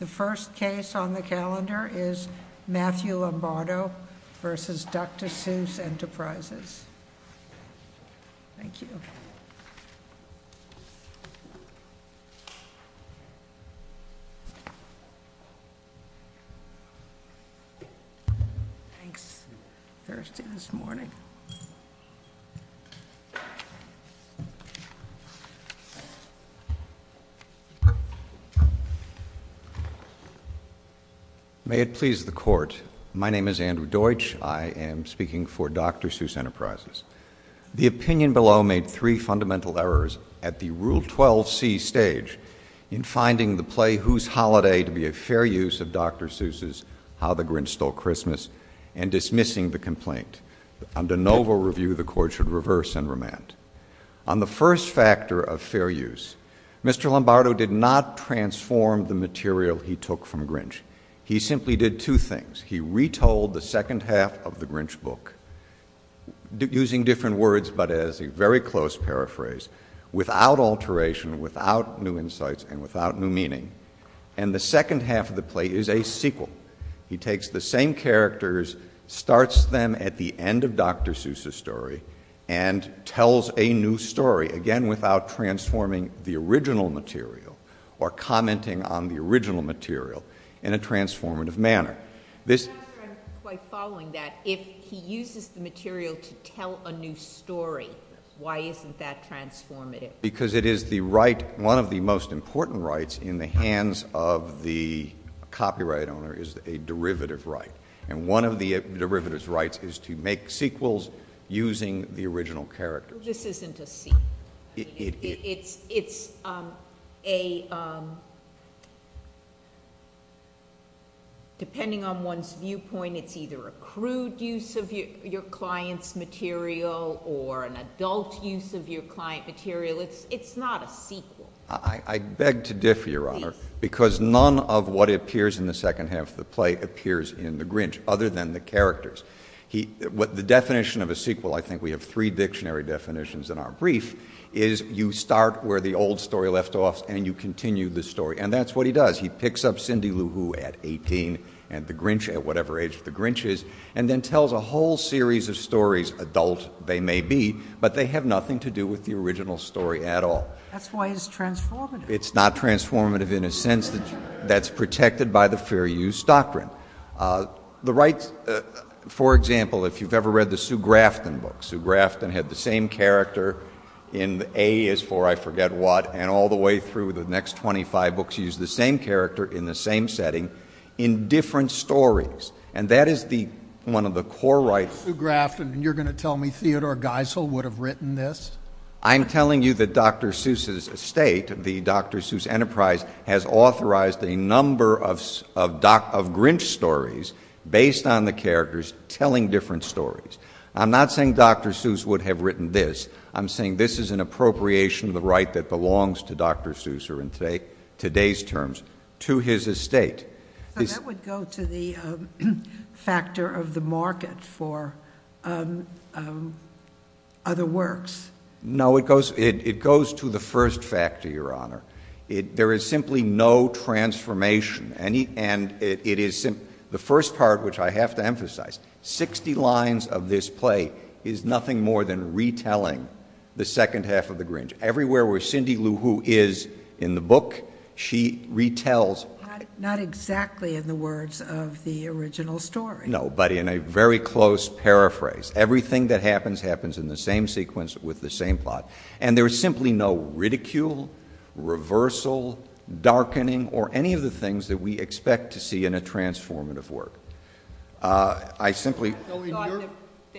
The first case on the calendar is Matthew Lombardo v. Dr. Seuss Enterprises. Thank you. Thanks. Thirsty this morning. May it please the Court, my name is Andrew Deutsch. I am speaking for Dr. Seuss Enterprises. The opinion below made three fundamental errors at the Rule 12c stage in finding the play Whose Holiday to be a fair use of Dr. Seuss's How the Grinch Stole Christmas and dismissing the complaint. Under novel review, the Court should reverse and remand. On the first factor of fair use, Mr. Lombardo did not transform the material he took from Grinch. He simply did two things. He retold the second half of the Grinch book, using different words but as a very close paraphrase, without alteration, without new insights and without new meaning. And the second half of the play is a sequel. He takes the same characters, starts them at the end of Dr. Seuss's story and tells a new story, again without transforming the original material or commenting on the original material in a transformative manner. I'm not sure I'm quite following that. If he uses the material to tell a new story, why isn't that transformative? Because it is the right, one of the most important rights in the hands of the copyright owner is a derivative right. And one of the derivatives rights is to make sequels using the original characters. This isn't a sequel. It's a, depending on one's viewpoint, it's either a crude use of your client's material or an adult use of your client material. It's not a sequel. I beg to differ, Your Honor, because none of what appears in the second half of the play appears in the Grinch, other than the characters. The definition of a sequel, I think we have three dictionary definitions in our brief, is you start where the old story left off and you continue the story. And that's what he does. He picks up Cindy Lou Who at 18 and the Grinch at whatever age the Grinch is and then tells a whole series of stories, adult they may be, but they have nothing to do with the original story at all. That's why it's transformative. It's not transformative in a sense that's protected by the fair use doctrine. The rights, for example, if you've ever read the Sue Grafton books, Sue Grafton had the same character in A is for I forget what, and all the way through the next 25 books used the same character in the same setting in different stories. And that is one of the core rights. Sue Grafton, and you're going to tell me Theodore Geisel would have written this? I'm telling you that Dr. Seuss' estate, the Dr. Seuss Enterprise, has authorized a number of Grinch stories based on the characters telling different stories. I'm not saying Dr. Seuss would have written this. I'm saying this is an appropriation of the right that belongs to Dr. Seuss in today's terms to his estate. So that would go to the factor of the market for other works? No, it goes to the first factor, Your Honor. There is simply no transformation. The first part, which I have to emphasize, 60 lines of this play is nothing more than retelling the second half of The Grinch. Everywhere where Cindy Lou Who is in the book, she retells. Not exactly in the words of the original story. No, but in a very close paraphrase. Everything that happens happens in the same sequence with the same plot. And there is simply no ridicule, reversal, darkening, or any of the things that we expect to see in a transformative work.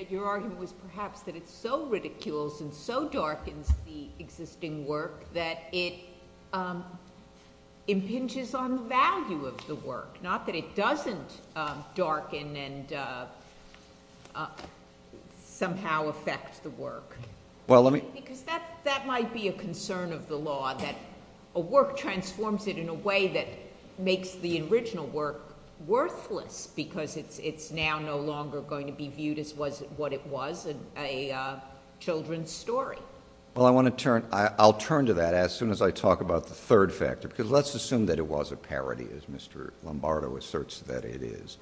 Your argument was perhaps that it so ridicules and so darkens the existing work that it impinges on the value of the work. Not that it doesn't darken and somehow affect the work. Because that might be a concern of the law, that a work transforms it in a way that makes the original work worthless, because it's now no longer going to be viewed as what it was, a children's story. Well, I'll turn to that as soon as I talk about the third factor, because let's assume that it was a parody, as Mr. Lombardo asserts that it is.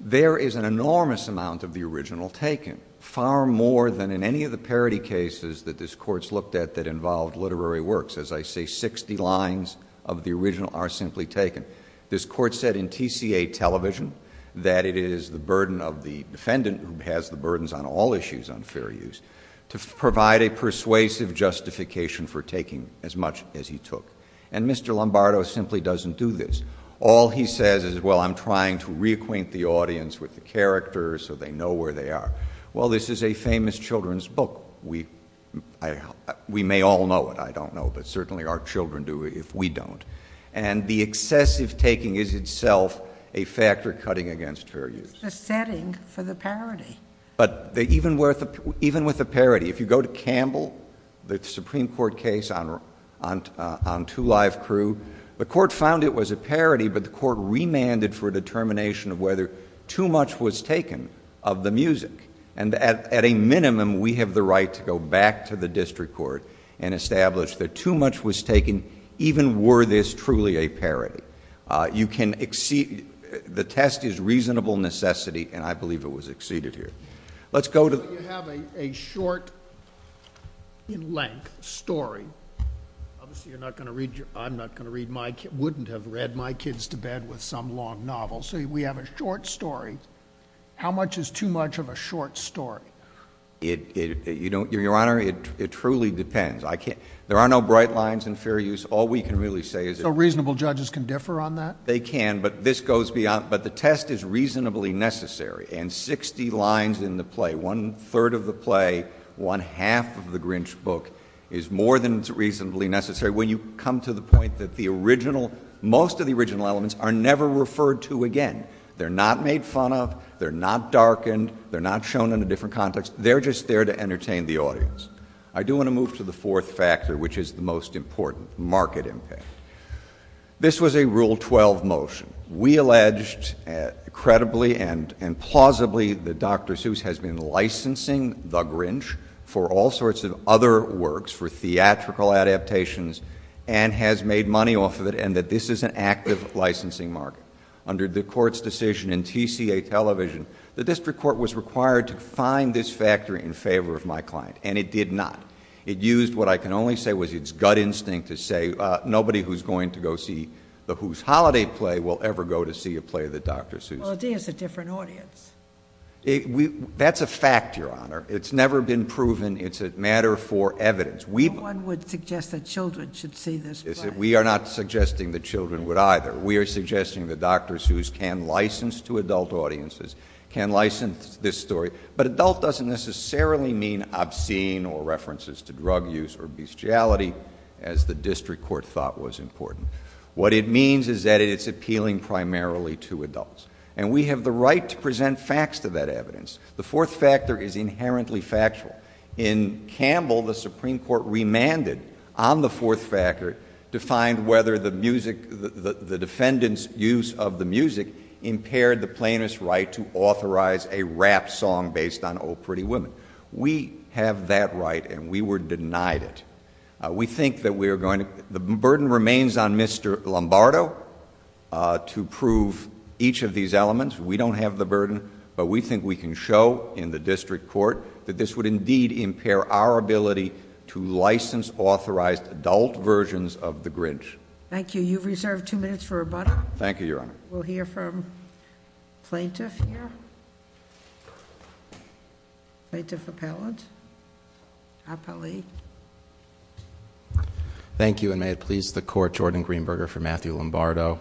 There is an enormous amount of the original taken. Far more than in any of the parody cases that this court's looked at that involved literary works. As I say, 60 lines of the original are simply taken. This court said in TCA television that it is the burden of the defendant, who has the burdens on all issues on fair use, to provide a persuasive justification for taking as much as he took. And Mr. Lombardo simply doesn't do this. All he says is, well, I'm trying to reacquaint the audience with the characters so they know where they are. Well, this is a famous children's book. We may all know it. I don't know, but certainly our children do if we don't. And the excessive taking is itself a factor cutting against fair use. It's the setting for the parody. But even with a parody, if you go to Campbell, the Supreme Court case on Two Live Crew, the court found it was a parody, but the court remanded for a determination of whether too much was taken of the music. And at a minimum, we have the right to go back to the district court and establish that too much was taken, even were this truly a parody. You can exceed the test is reasonable necessity, and I believe it was exceeded here. Let's go to the You have a short in length story. Obviously, I'm not going to read my kids, wouldn't have read my kids to bed with some long novel. So we have a short story. How much is too much of a short story? Your Honor, it truly depends. There are no bright lines in fair use. All we can really say is So reasonable judges can differ on that? They can, but this goes beyond, but the test is reasonably necessary. And 60 lines in the play, one third of the play, one half of the Grinch book is more than reasonably necessary. When you come to the point that the original, most of the original elements are never referred to again. They're not made fun of. They're not darkened. They're not shown in a different context. They're just there to entertain the audience. I do want to move to the fourth factor, which is the most important, market impact. This was a Rule 12 motion. We alleged, credibly and plausibly, that Dr. Seuss has been licensing The Grinch for all sorts of other works, for theatrical adaptations, and has made money off of it, and that this is an active licensing market. Under the court's decision in TCA Television, the district court was required to find this factor in favor of my client, and it did not. It used what I can only say was its gut instinct to say, nobody who's going to go see the Who's Holiday play will ever go to see a play of the Dr. Seuss. Well, it is a different audience. That's a fact, Your Honor. It's never been proven. It's a matter for evidence. No one would suggest that children should see this play. We are not suggesting that children would either. We are suggesting that Dr. Seuss can license to adult audiences, can license this story, but adult doesn't necessarily mean obscene or references to drug use or bestiality, as the district court thought was important. What it means is that it's appealing primarily to adults, and we have the right to present facts to that evidence. The fourth factor is inherently factual. In Campbell, the Supreme Court remanded on the fourth factor to find whether the defendant's use of the music impaired the plaintiff's right to authorize a rap song based on Oh, Pretty Woman. We have that right, and we were denied it. We think that we are going to ‑‑ the burden remains on Mr. Lombardo to prove each of these elements. We don't have the burden, but we think we can show in the district court that this would indeed impair our ability to license authorized adult versions of the Grinch. Thank you. You've reserved two minutes for rebuttal. Thank you, Your Honor. We'll hear from plaintiff here. Plaintiff appellant. Appellee. Thank you, and may it please the court, Jordan Greenberger for Matthew Lombardo.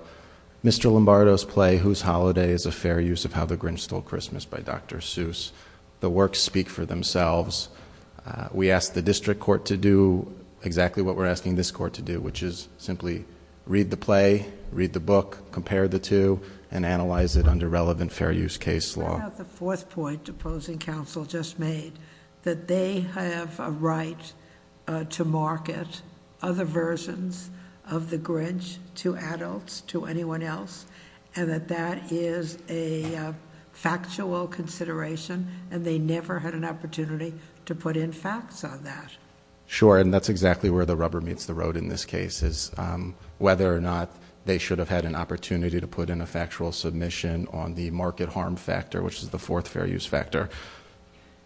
Mr. Lombardo's play, Whose Holiday, is a fair use of How the Grinch Stole Christmas by Dr. Seuss. The works speak for themselves. We asked the district court to do exactly what we're asking this court to do, which is simply read the play, read the book, compare the two, and analyze it under relevant fair use case law. I have the fourth point opposing counsel just made, that they have a right to market other versions of the Grinch to adults, to anyone else, and that that is a factual consideration, and they never had an opportunity to put in facts on that. Sure, and that's exactly where the rubber meets the road in this case, is whether or not they should have had an opportunity to put in a factual submission on the market harm factor, which is the fourth fair use factor.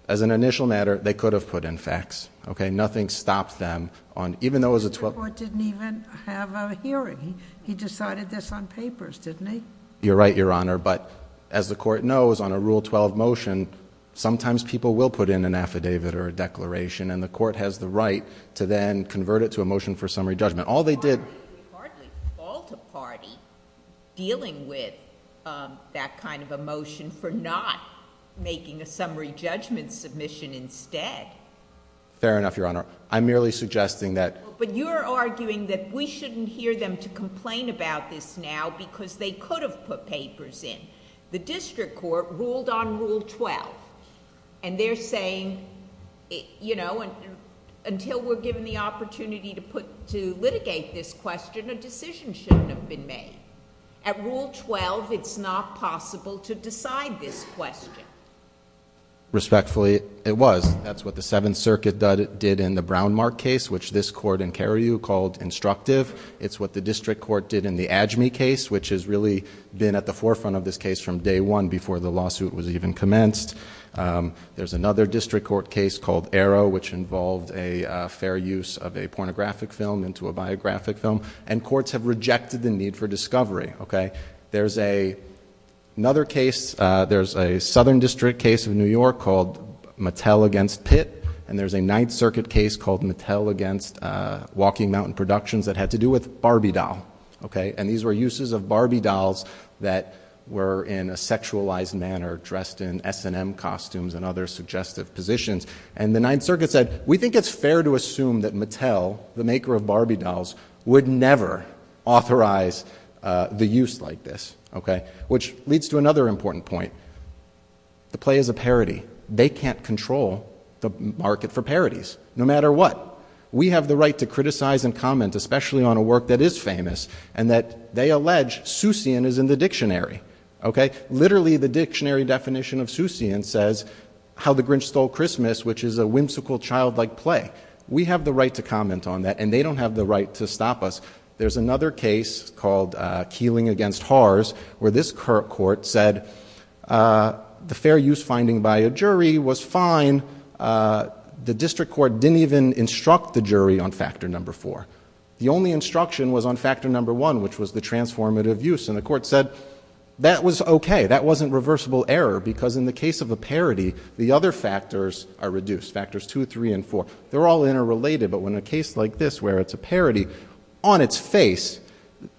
As an initial matter, they could have put in facts, okay? Nothing stopped them on... The district court didn't even have a hearing. He decided this on papers, didn't he? You're right, Your Honor, but as the court knows, on a Rule 12 motion, sometimes people will put in an affidavit or a declaration, and the court has the right to then convert it to a motion for summary judgment. All they did... We hardly fault a party dealing with that kind of a motion for not making a summary judgment submission instead. Fair enough, Your Honor. I'm merely suggesting that... But you're arguing that we shouldn't hear them to complain about this now, because they could have put papers in. The district court ruled on Rule 12, and they're saying, you know, until we're given the opportunity to litigate this question, a decision shouldn't have been made. At Rule 12, it's not possible to decide this question. Respectfully, it was. That's what the Seventh Circuit did in the Brownmark case, which this court in Cariou called instructive. It's what the district court did in the Ajme case, which has really been at the forefront of this case from day one, before the lawsuit was even commenced. There's another district court case called Arrow, which involved a fair use of a pornographic film into a biographic film, and courts have rejected the need for discovery, okay? There's another case, there's a southern district case in New York called Mattel against Pitt, and there's a Ninth Circuit case called Mattel against Walking Mountain Productions that had to do with Barbie doll, okay? And these were uses of Barbie dolls that were in a sexualized manner, dressed in S&M costumes and other suggestive positions. And the Ninth Circuit said, we think it's fair to assume that Mattel, the maker of Barbie dolls, would never authorize the use like this, okay? Which leads to another important point. The play is a parody. They can't control the market for parodies, no matter what. We have the right to criticize and comment, especially on a work that is famous, and that they allege Soussian is in the dictionary, okay? Literally, the dictionary definition of Soussian says, How the Grinch Stole Christmas, which is a whimsical, childlike play. We have the right to comment on that, and they don't have the right to stop us. There's another case called Keeling against Haars, where this court said the fair use finding by a jury was fine. The district court didn't even instruct the jury on factor number four. The only instruction was on factor number one, which was the transformative use, and the court said that was okay. That wasn't reversible error, because in the case of a parody, the other factors are reduced, factors two, three, and four. They're all interrelated, but in a case like this, where it's a parody, on its face,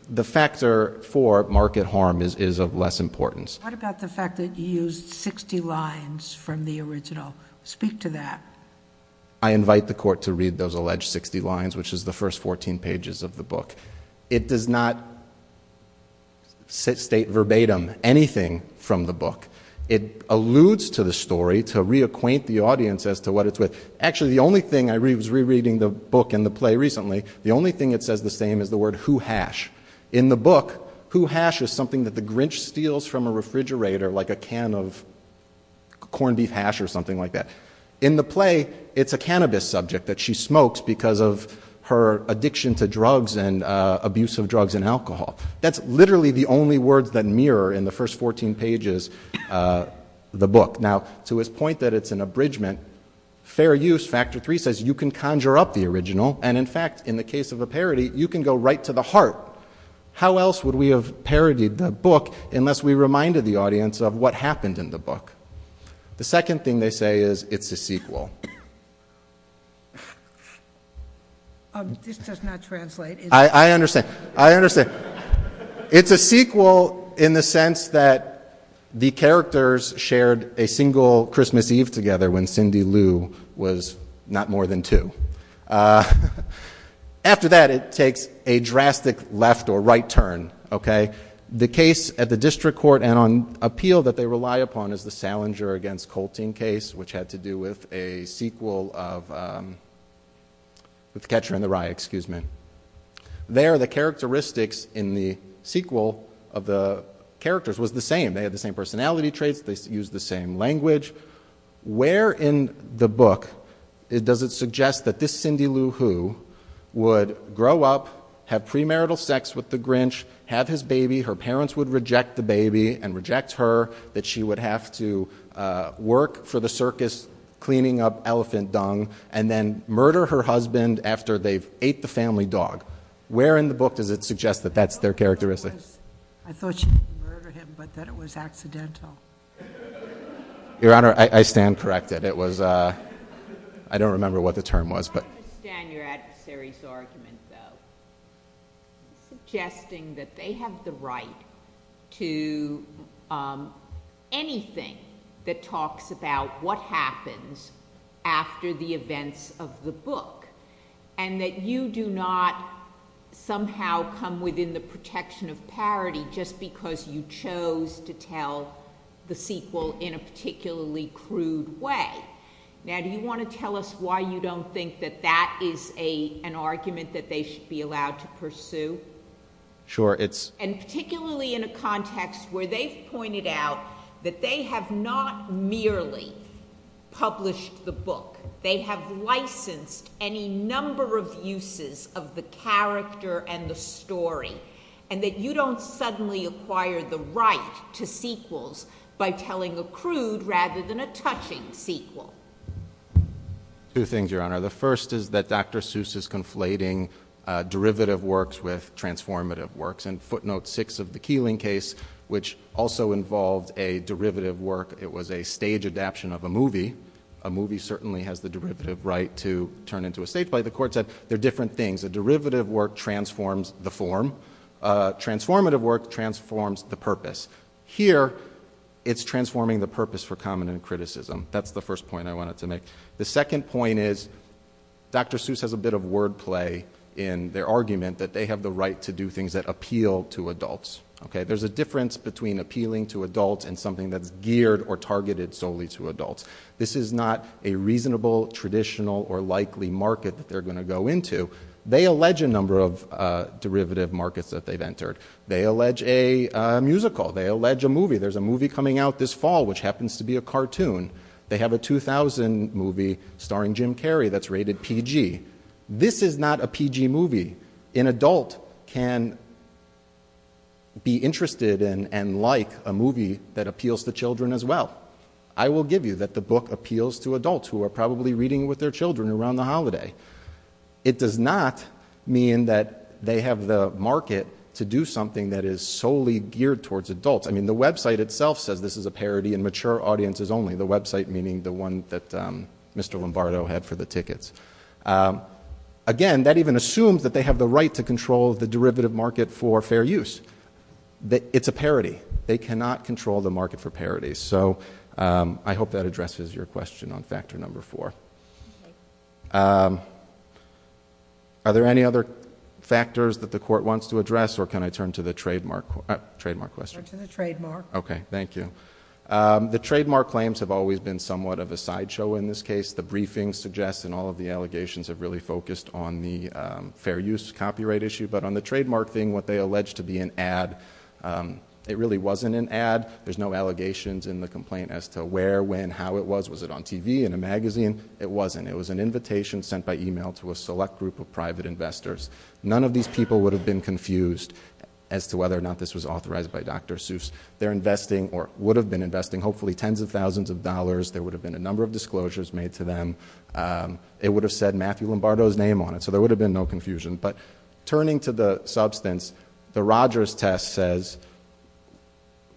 the factor for market harm is of less importance. What about the fact that you used 60 lines from the original? Speak to that. I invite the court to read those alleged 60 lines, which is the first 14 pages of the book. It does not state verbatim anything from the book. It alludes to the story to reacquaint the audience as to what it's with. Actually, the only thing I was rereading the book and the play recently, the only thing it says the same is the word who hash. In the book, who hash is something that the Grinch steals from a refrigerator, like a can of corned beef hash or something like that. In the play, it's a cannabis subject that she smokes because of her addiction to drugs and abuse of drugs and alcohol. That's literally the only words that mirror, in the first 14 pages, the book. Now, to his point that it's an abridgment, fair use, factor three, says you can conjure up the original. In fact, in the case of a parody, you can go right to the heart. How else would we have parodied the book unless we reminded the audience of what happened in the book? The second thing they say is it's a sequel. This does not translate. I understand. It's a sequel in the sense that the characters shared a single Christmas Eve together when Cindy Lou was not more than two. After that, it takes a drastic left or right turn. The case at the district court and on appeal that they rely upon is the Salinger against Colting case, which had to do with a sequel of The Catcher in the Rye. There, the characteristics in the sequel of the characters was the same. They had the same personality traits. They used the same language. Where in the book does it suggest that this Cindy Lou Who would grow up, have premarital sex with the Grinch, have his baby. Her parents would reject the baby and reject her, that she would have to work for the circus cleaning up elephant dung and then murder her husband after they've ate the family dog. Where in the book does it suggest that that's their characteristics? I thought she didn't murder him, but that it was accidental. Your Honor, I stand corrected. I don't remember what the term was. I understand your adversary's argument, though. Suggesting that they have the right to anything that talks about what happens after the events of the book and that you do not somehow come within the protection of parity just because you chose to tell the sequel in a particularly crude way. Now, do you want to tell us why you don't think that that is an argument that they should be allowed to pursue? Sure. And particularly in a context where they've pointed out that they have not merely published the book. They have licensed any number of uses of the character and the story and that you don't suddenly acquire the right to sequels by telling a crude rather than a touching sequel. Two things, Your Honor. The first is that Dr. Seuss is conflating derivative works with transformative works. And footnote six of the Keeling case, which also involved a derivative work, it was a stage adaption of a movie. A movie certainly has the derivative right to turn into a stage play. The court said there are different things. A derivative work transforms the form. A transformative work transforms the purpose. Here, it's transforming the purpose for common criticism. That's the first point I wanted to make. The second point is Dr. Seuss has a bit of wordplay in their argument that they have the right to do things that appeal to adults. There's a difference between appealing to adults and something that's geared or targeted solely to adults. This is not a reasonable, traditional, or likely market that they're going to go into. They allege a number of derivative markets that they've entered. They allege a musical. They allege a movie. There's a movie coming out this fall which happens to be a cartoon. They have a 2000 movie starring Jim Carrey that's rated PG. This is not a PG movie. An adult can be interested and like a movie that appeals to children as well. I will give you that the book appeals to adults who are probably reading it with their children around the holiday. It does not mean that they have the market to do something that is solely geared towards adults. The website itself says this is a parody in mature audiences only. The website meaning the one that Mr. Lombardo had for the tickets. Again, that even assumes that they have the right to control the derivative market for fair use. It's a parody. They cannot control the market for parodies. I hope that addresses your question on factor number four. Are there any other factors that the court wants to address or can I turn to the trademark question? Go to the trademark. Okay. Thank you. The trademark claims have always been somewhat of a sideshow in this case. The briefings suggest and all of the allegations have really focused on the fair use copyright issue. On the trademark thing, what they allege to be an ad, it really wasn't an ad. There's no allegations in the complaint as to where, when, how it was. Was it on TV, in a magazine? It wasn't. It was an invitation sent by email to a select group of private investors. None of these people would have been confused as to whether or not this was authorized by Dr. Seuss. They're investing or would have been investing hopefully tens of thousands of dollars. There would have been a number of disclosures made to them. It would have said Matthew Lombardo's name on it. So there would have been no confusion. But turning to the substance, the Rogers test says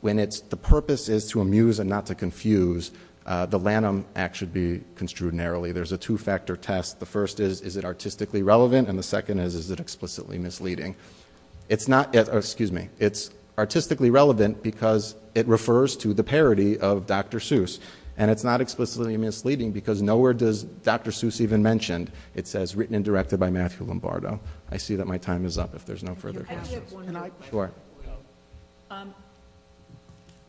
when the purpose is to amuse and not to confuse, the Lanham Act should be construed narrowly. There's a two-factor test. The first is, is it artistically relevant? And the second is, is it explicitly misleading? It's artistically relevant because it refers to the parody of Dr. Seuss. And it's not explicitly misleading because nowhere does Dr. Seuss even mention, it says, it's written and directed by Matthew Lombardo. I see that my time is up if there's no further questions. Sure.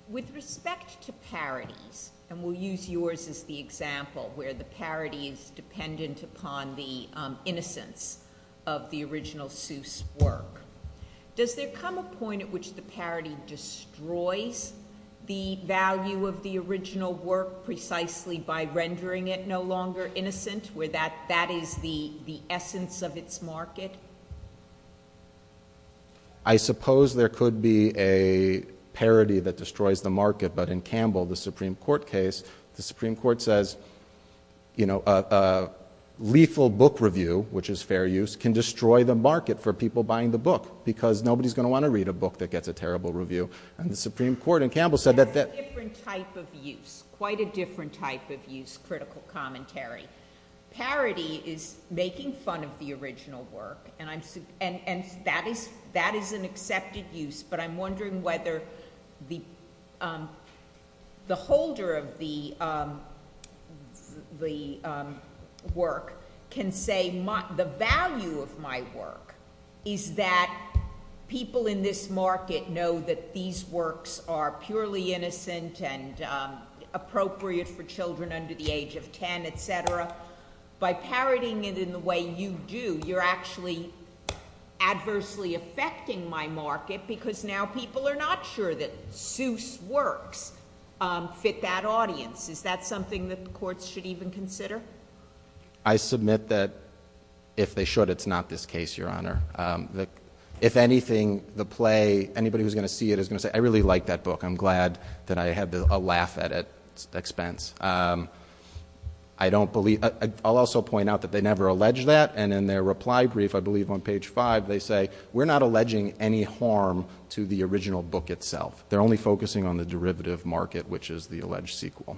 With respect to parodies, and we'll use yours as the example, where the parody is dependent upon the innocence of the original Seuss work, does there come a point at which the parody destroys the value of the original work precisely by rendering it no longer innocent, where that is the essence of its market? I suppose there could be a parody that destroys the market. But in Campbell, the Supreme Court case, the Supreme Court says, you know, a lethal book review, which is fair use, can destroy the market for people buying the book because nobody's going to want to read a book that gets a terrible review. And the Supreme Court in Campbell said that that— that's a different type of use, critical commentary. Parody is making fun of the original work, and that is an accepted use, but I'm wondering whether the holder of the work can say, the value of my work is that people in this market know that these works are purely innocent and appropriate for children under the age of 10, et cetera. By parodying it in the way you do, you're actually adversely affecting my market because now people are not sure that Seuss works fit that audience. Is that something that the courts should even consider? I submit that if they should, it's not this case, Your Honor. If anything, the play, anybody who's going to see it is going to say, I really like that book. I'm glad that I had a laugh at its expense. I don't believe—I'll also point out that they never allege that, and in their reply brief, I believe on page 5, they say, we're not alleging any harm to the original book itself. They're only focusing on the derivative market, which is the alleged sequel.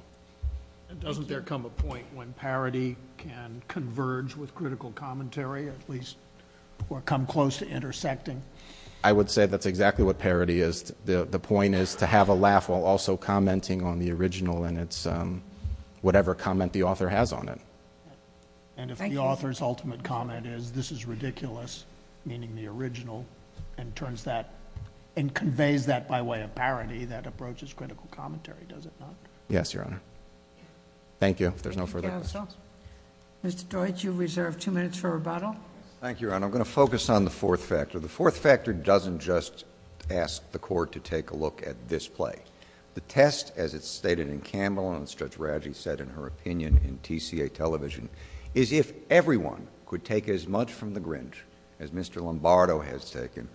Doesn't there come a point when parody can converge with critical commentary, at least come close to intersecting? I would say that's exactly what parody is. The point is to have a laugh while also commenting on the original and whatever comment the author has on it. And if the author's ultimate comment is, this is ridiculous, meaning the original, and conveys that by way of parody, that approaches critical commentary, does it not? Yes, Your Honor. Thank you. If there's no further questions. Thank you, counsel. Mr. Deutsch, you reserve two minutes for rebuttal. Thank you, Your Honor. I'm going to focus on the fourth factor. The fourth factor doesn't just ask the court to take a look at this play. The test, as it's stated in Campbell and as Judge Radji said in her opinion in TCA Television, is if everyone could take as much from the Grinch as Mr. Lombardo has taken,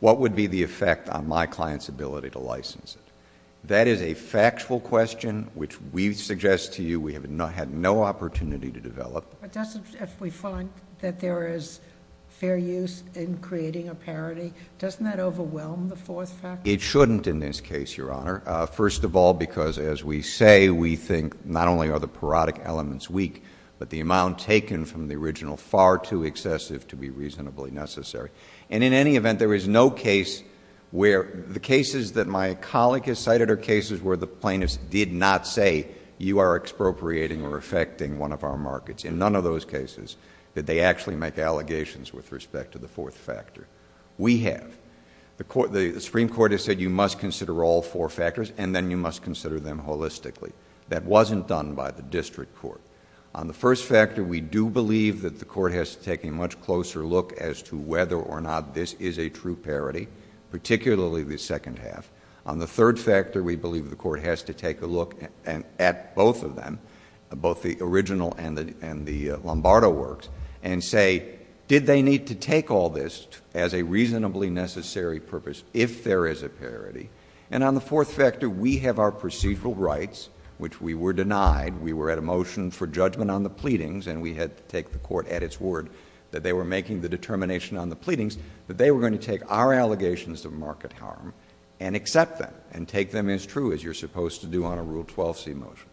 what would be the effect on my client's ability to license it? That is a factual question, which we suggest to you we have had no opportunity to develop. If we find that there is fair use in creating a parody, doesn't that overwhelm the fourth factor? It shouldn't in this case, Your Honor. First of all, because as we say, we think not only are the parodic elements weak, but the amount taken from the original far too excessive to be reasonably necessary. And in any event, there is no case where the cases that my colleague has cited are cases where the plaintiffs did not say you are expropriating or affecting one of our markets. In none of those cases did they actually make allegations with respect to the fourth factor. We have. The Supreme Court has said you must consider all four factors and then you must consider them holistically. That wasn't done by the district court. On the first factor, we do believe that the court has to take a much closer look as to whether or not this is a true parody, particularly the second half. On the third factor, we believe the court has to take a look at both of them, both the original and the Lombardo works, and say did they need to take all this as a reasonably necessary purpose if there is a parody. And on the fourth factor, we have our procedural rights, which we were denied. We were at a motion for judgment on the pleadings, and we had to take the court at its word that they were making the determination on the pleadings that they were going to take our allegations of market harm and accept them and take them as true as you're supposed to do on a Rule 12C motion.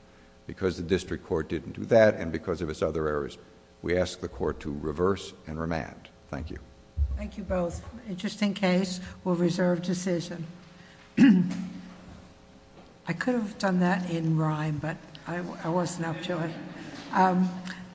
Because the district court didn't do that and because of its other errors, we ask the court to reverse and remand. Thank you. Thank you both. Just in case, we'll reserve decision. I could have done that in rhyme, but I wasn't up to it.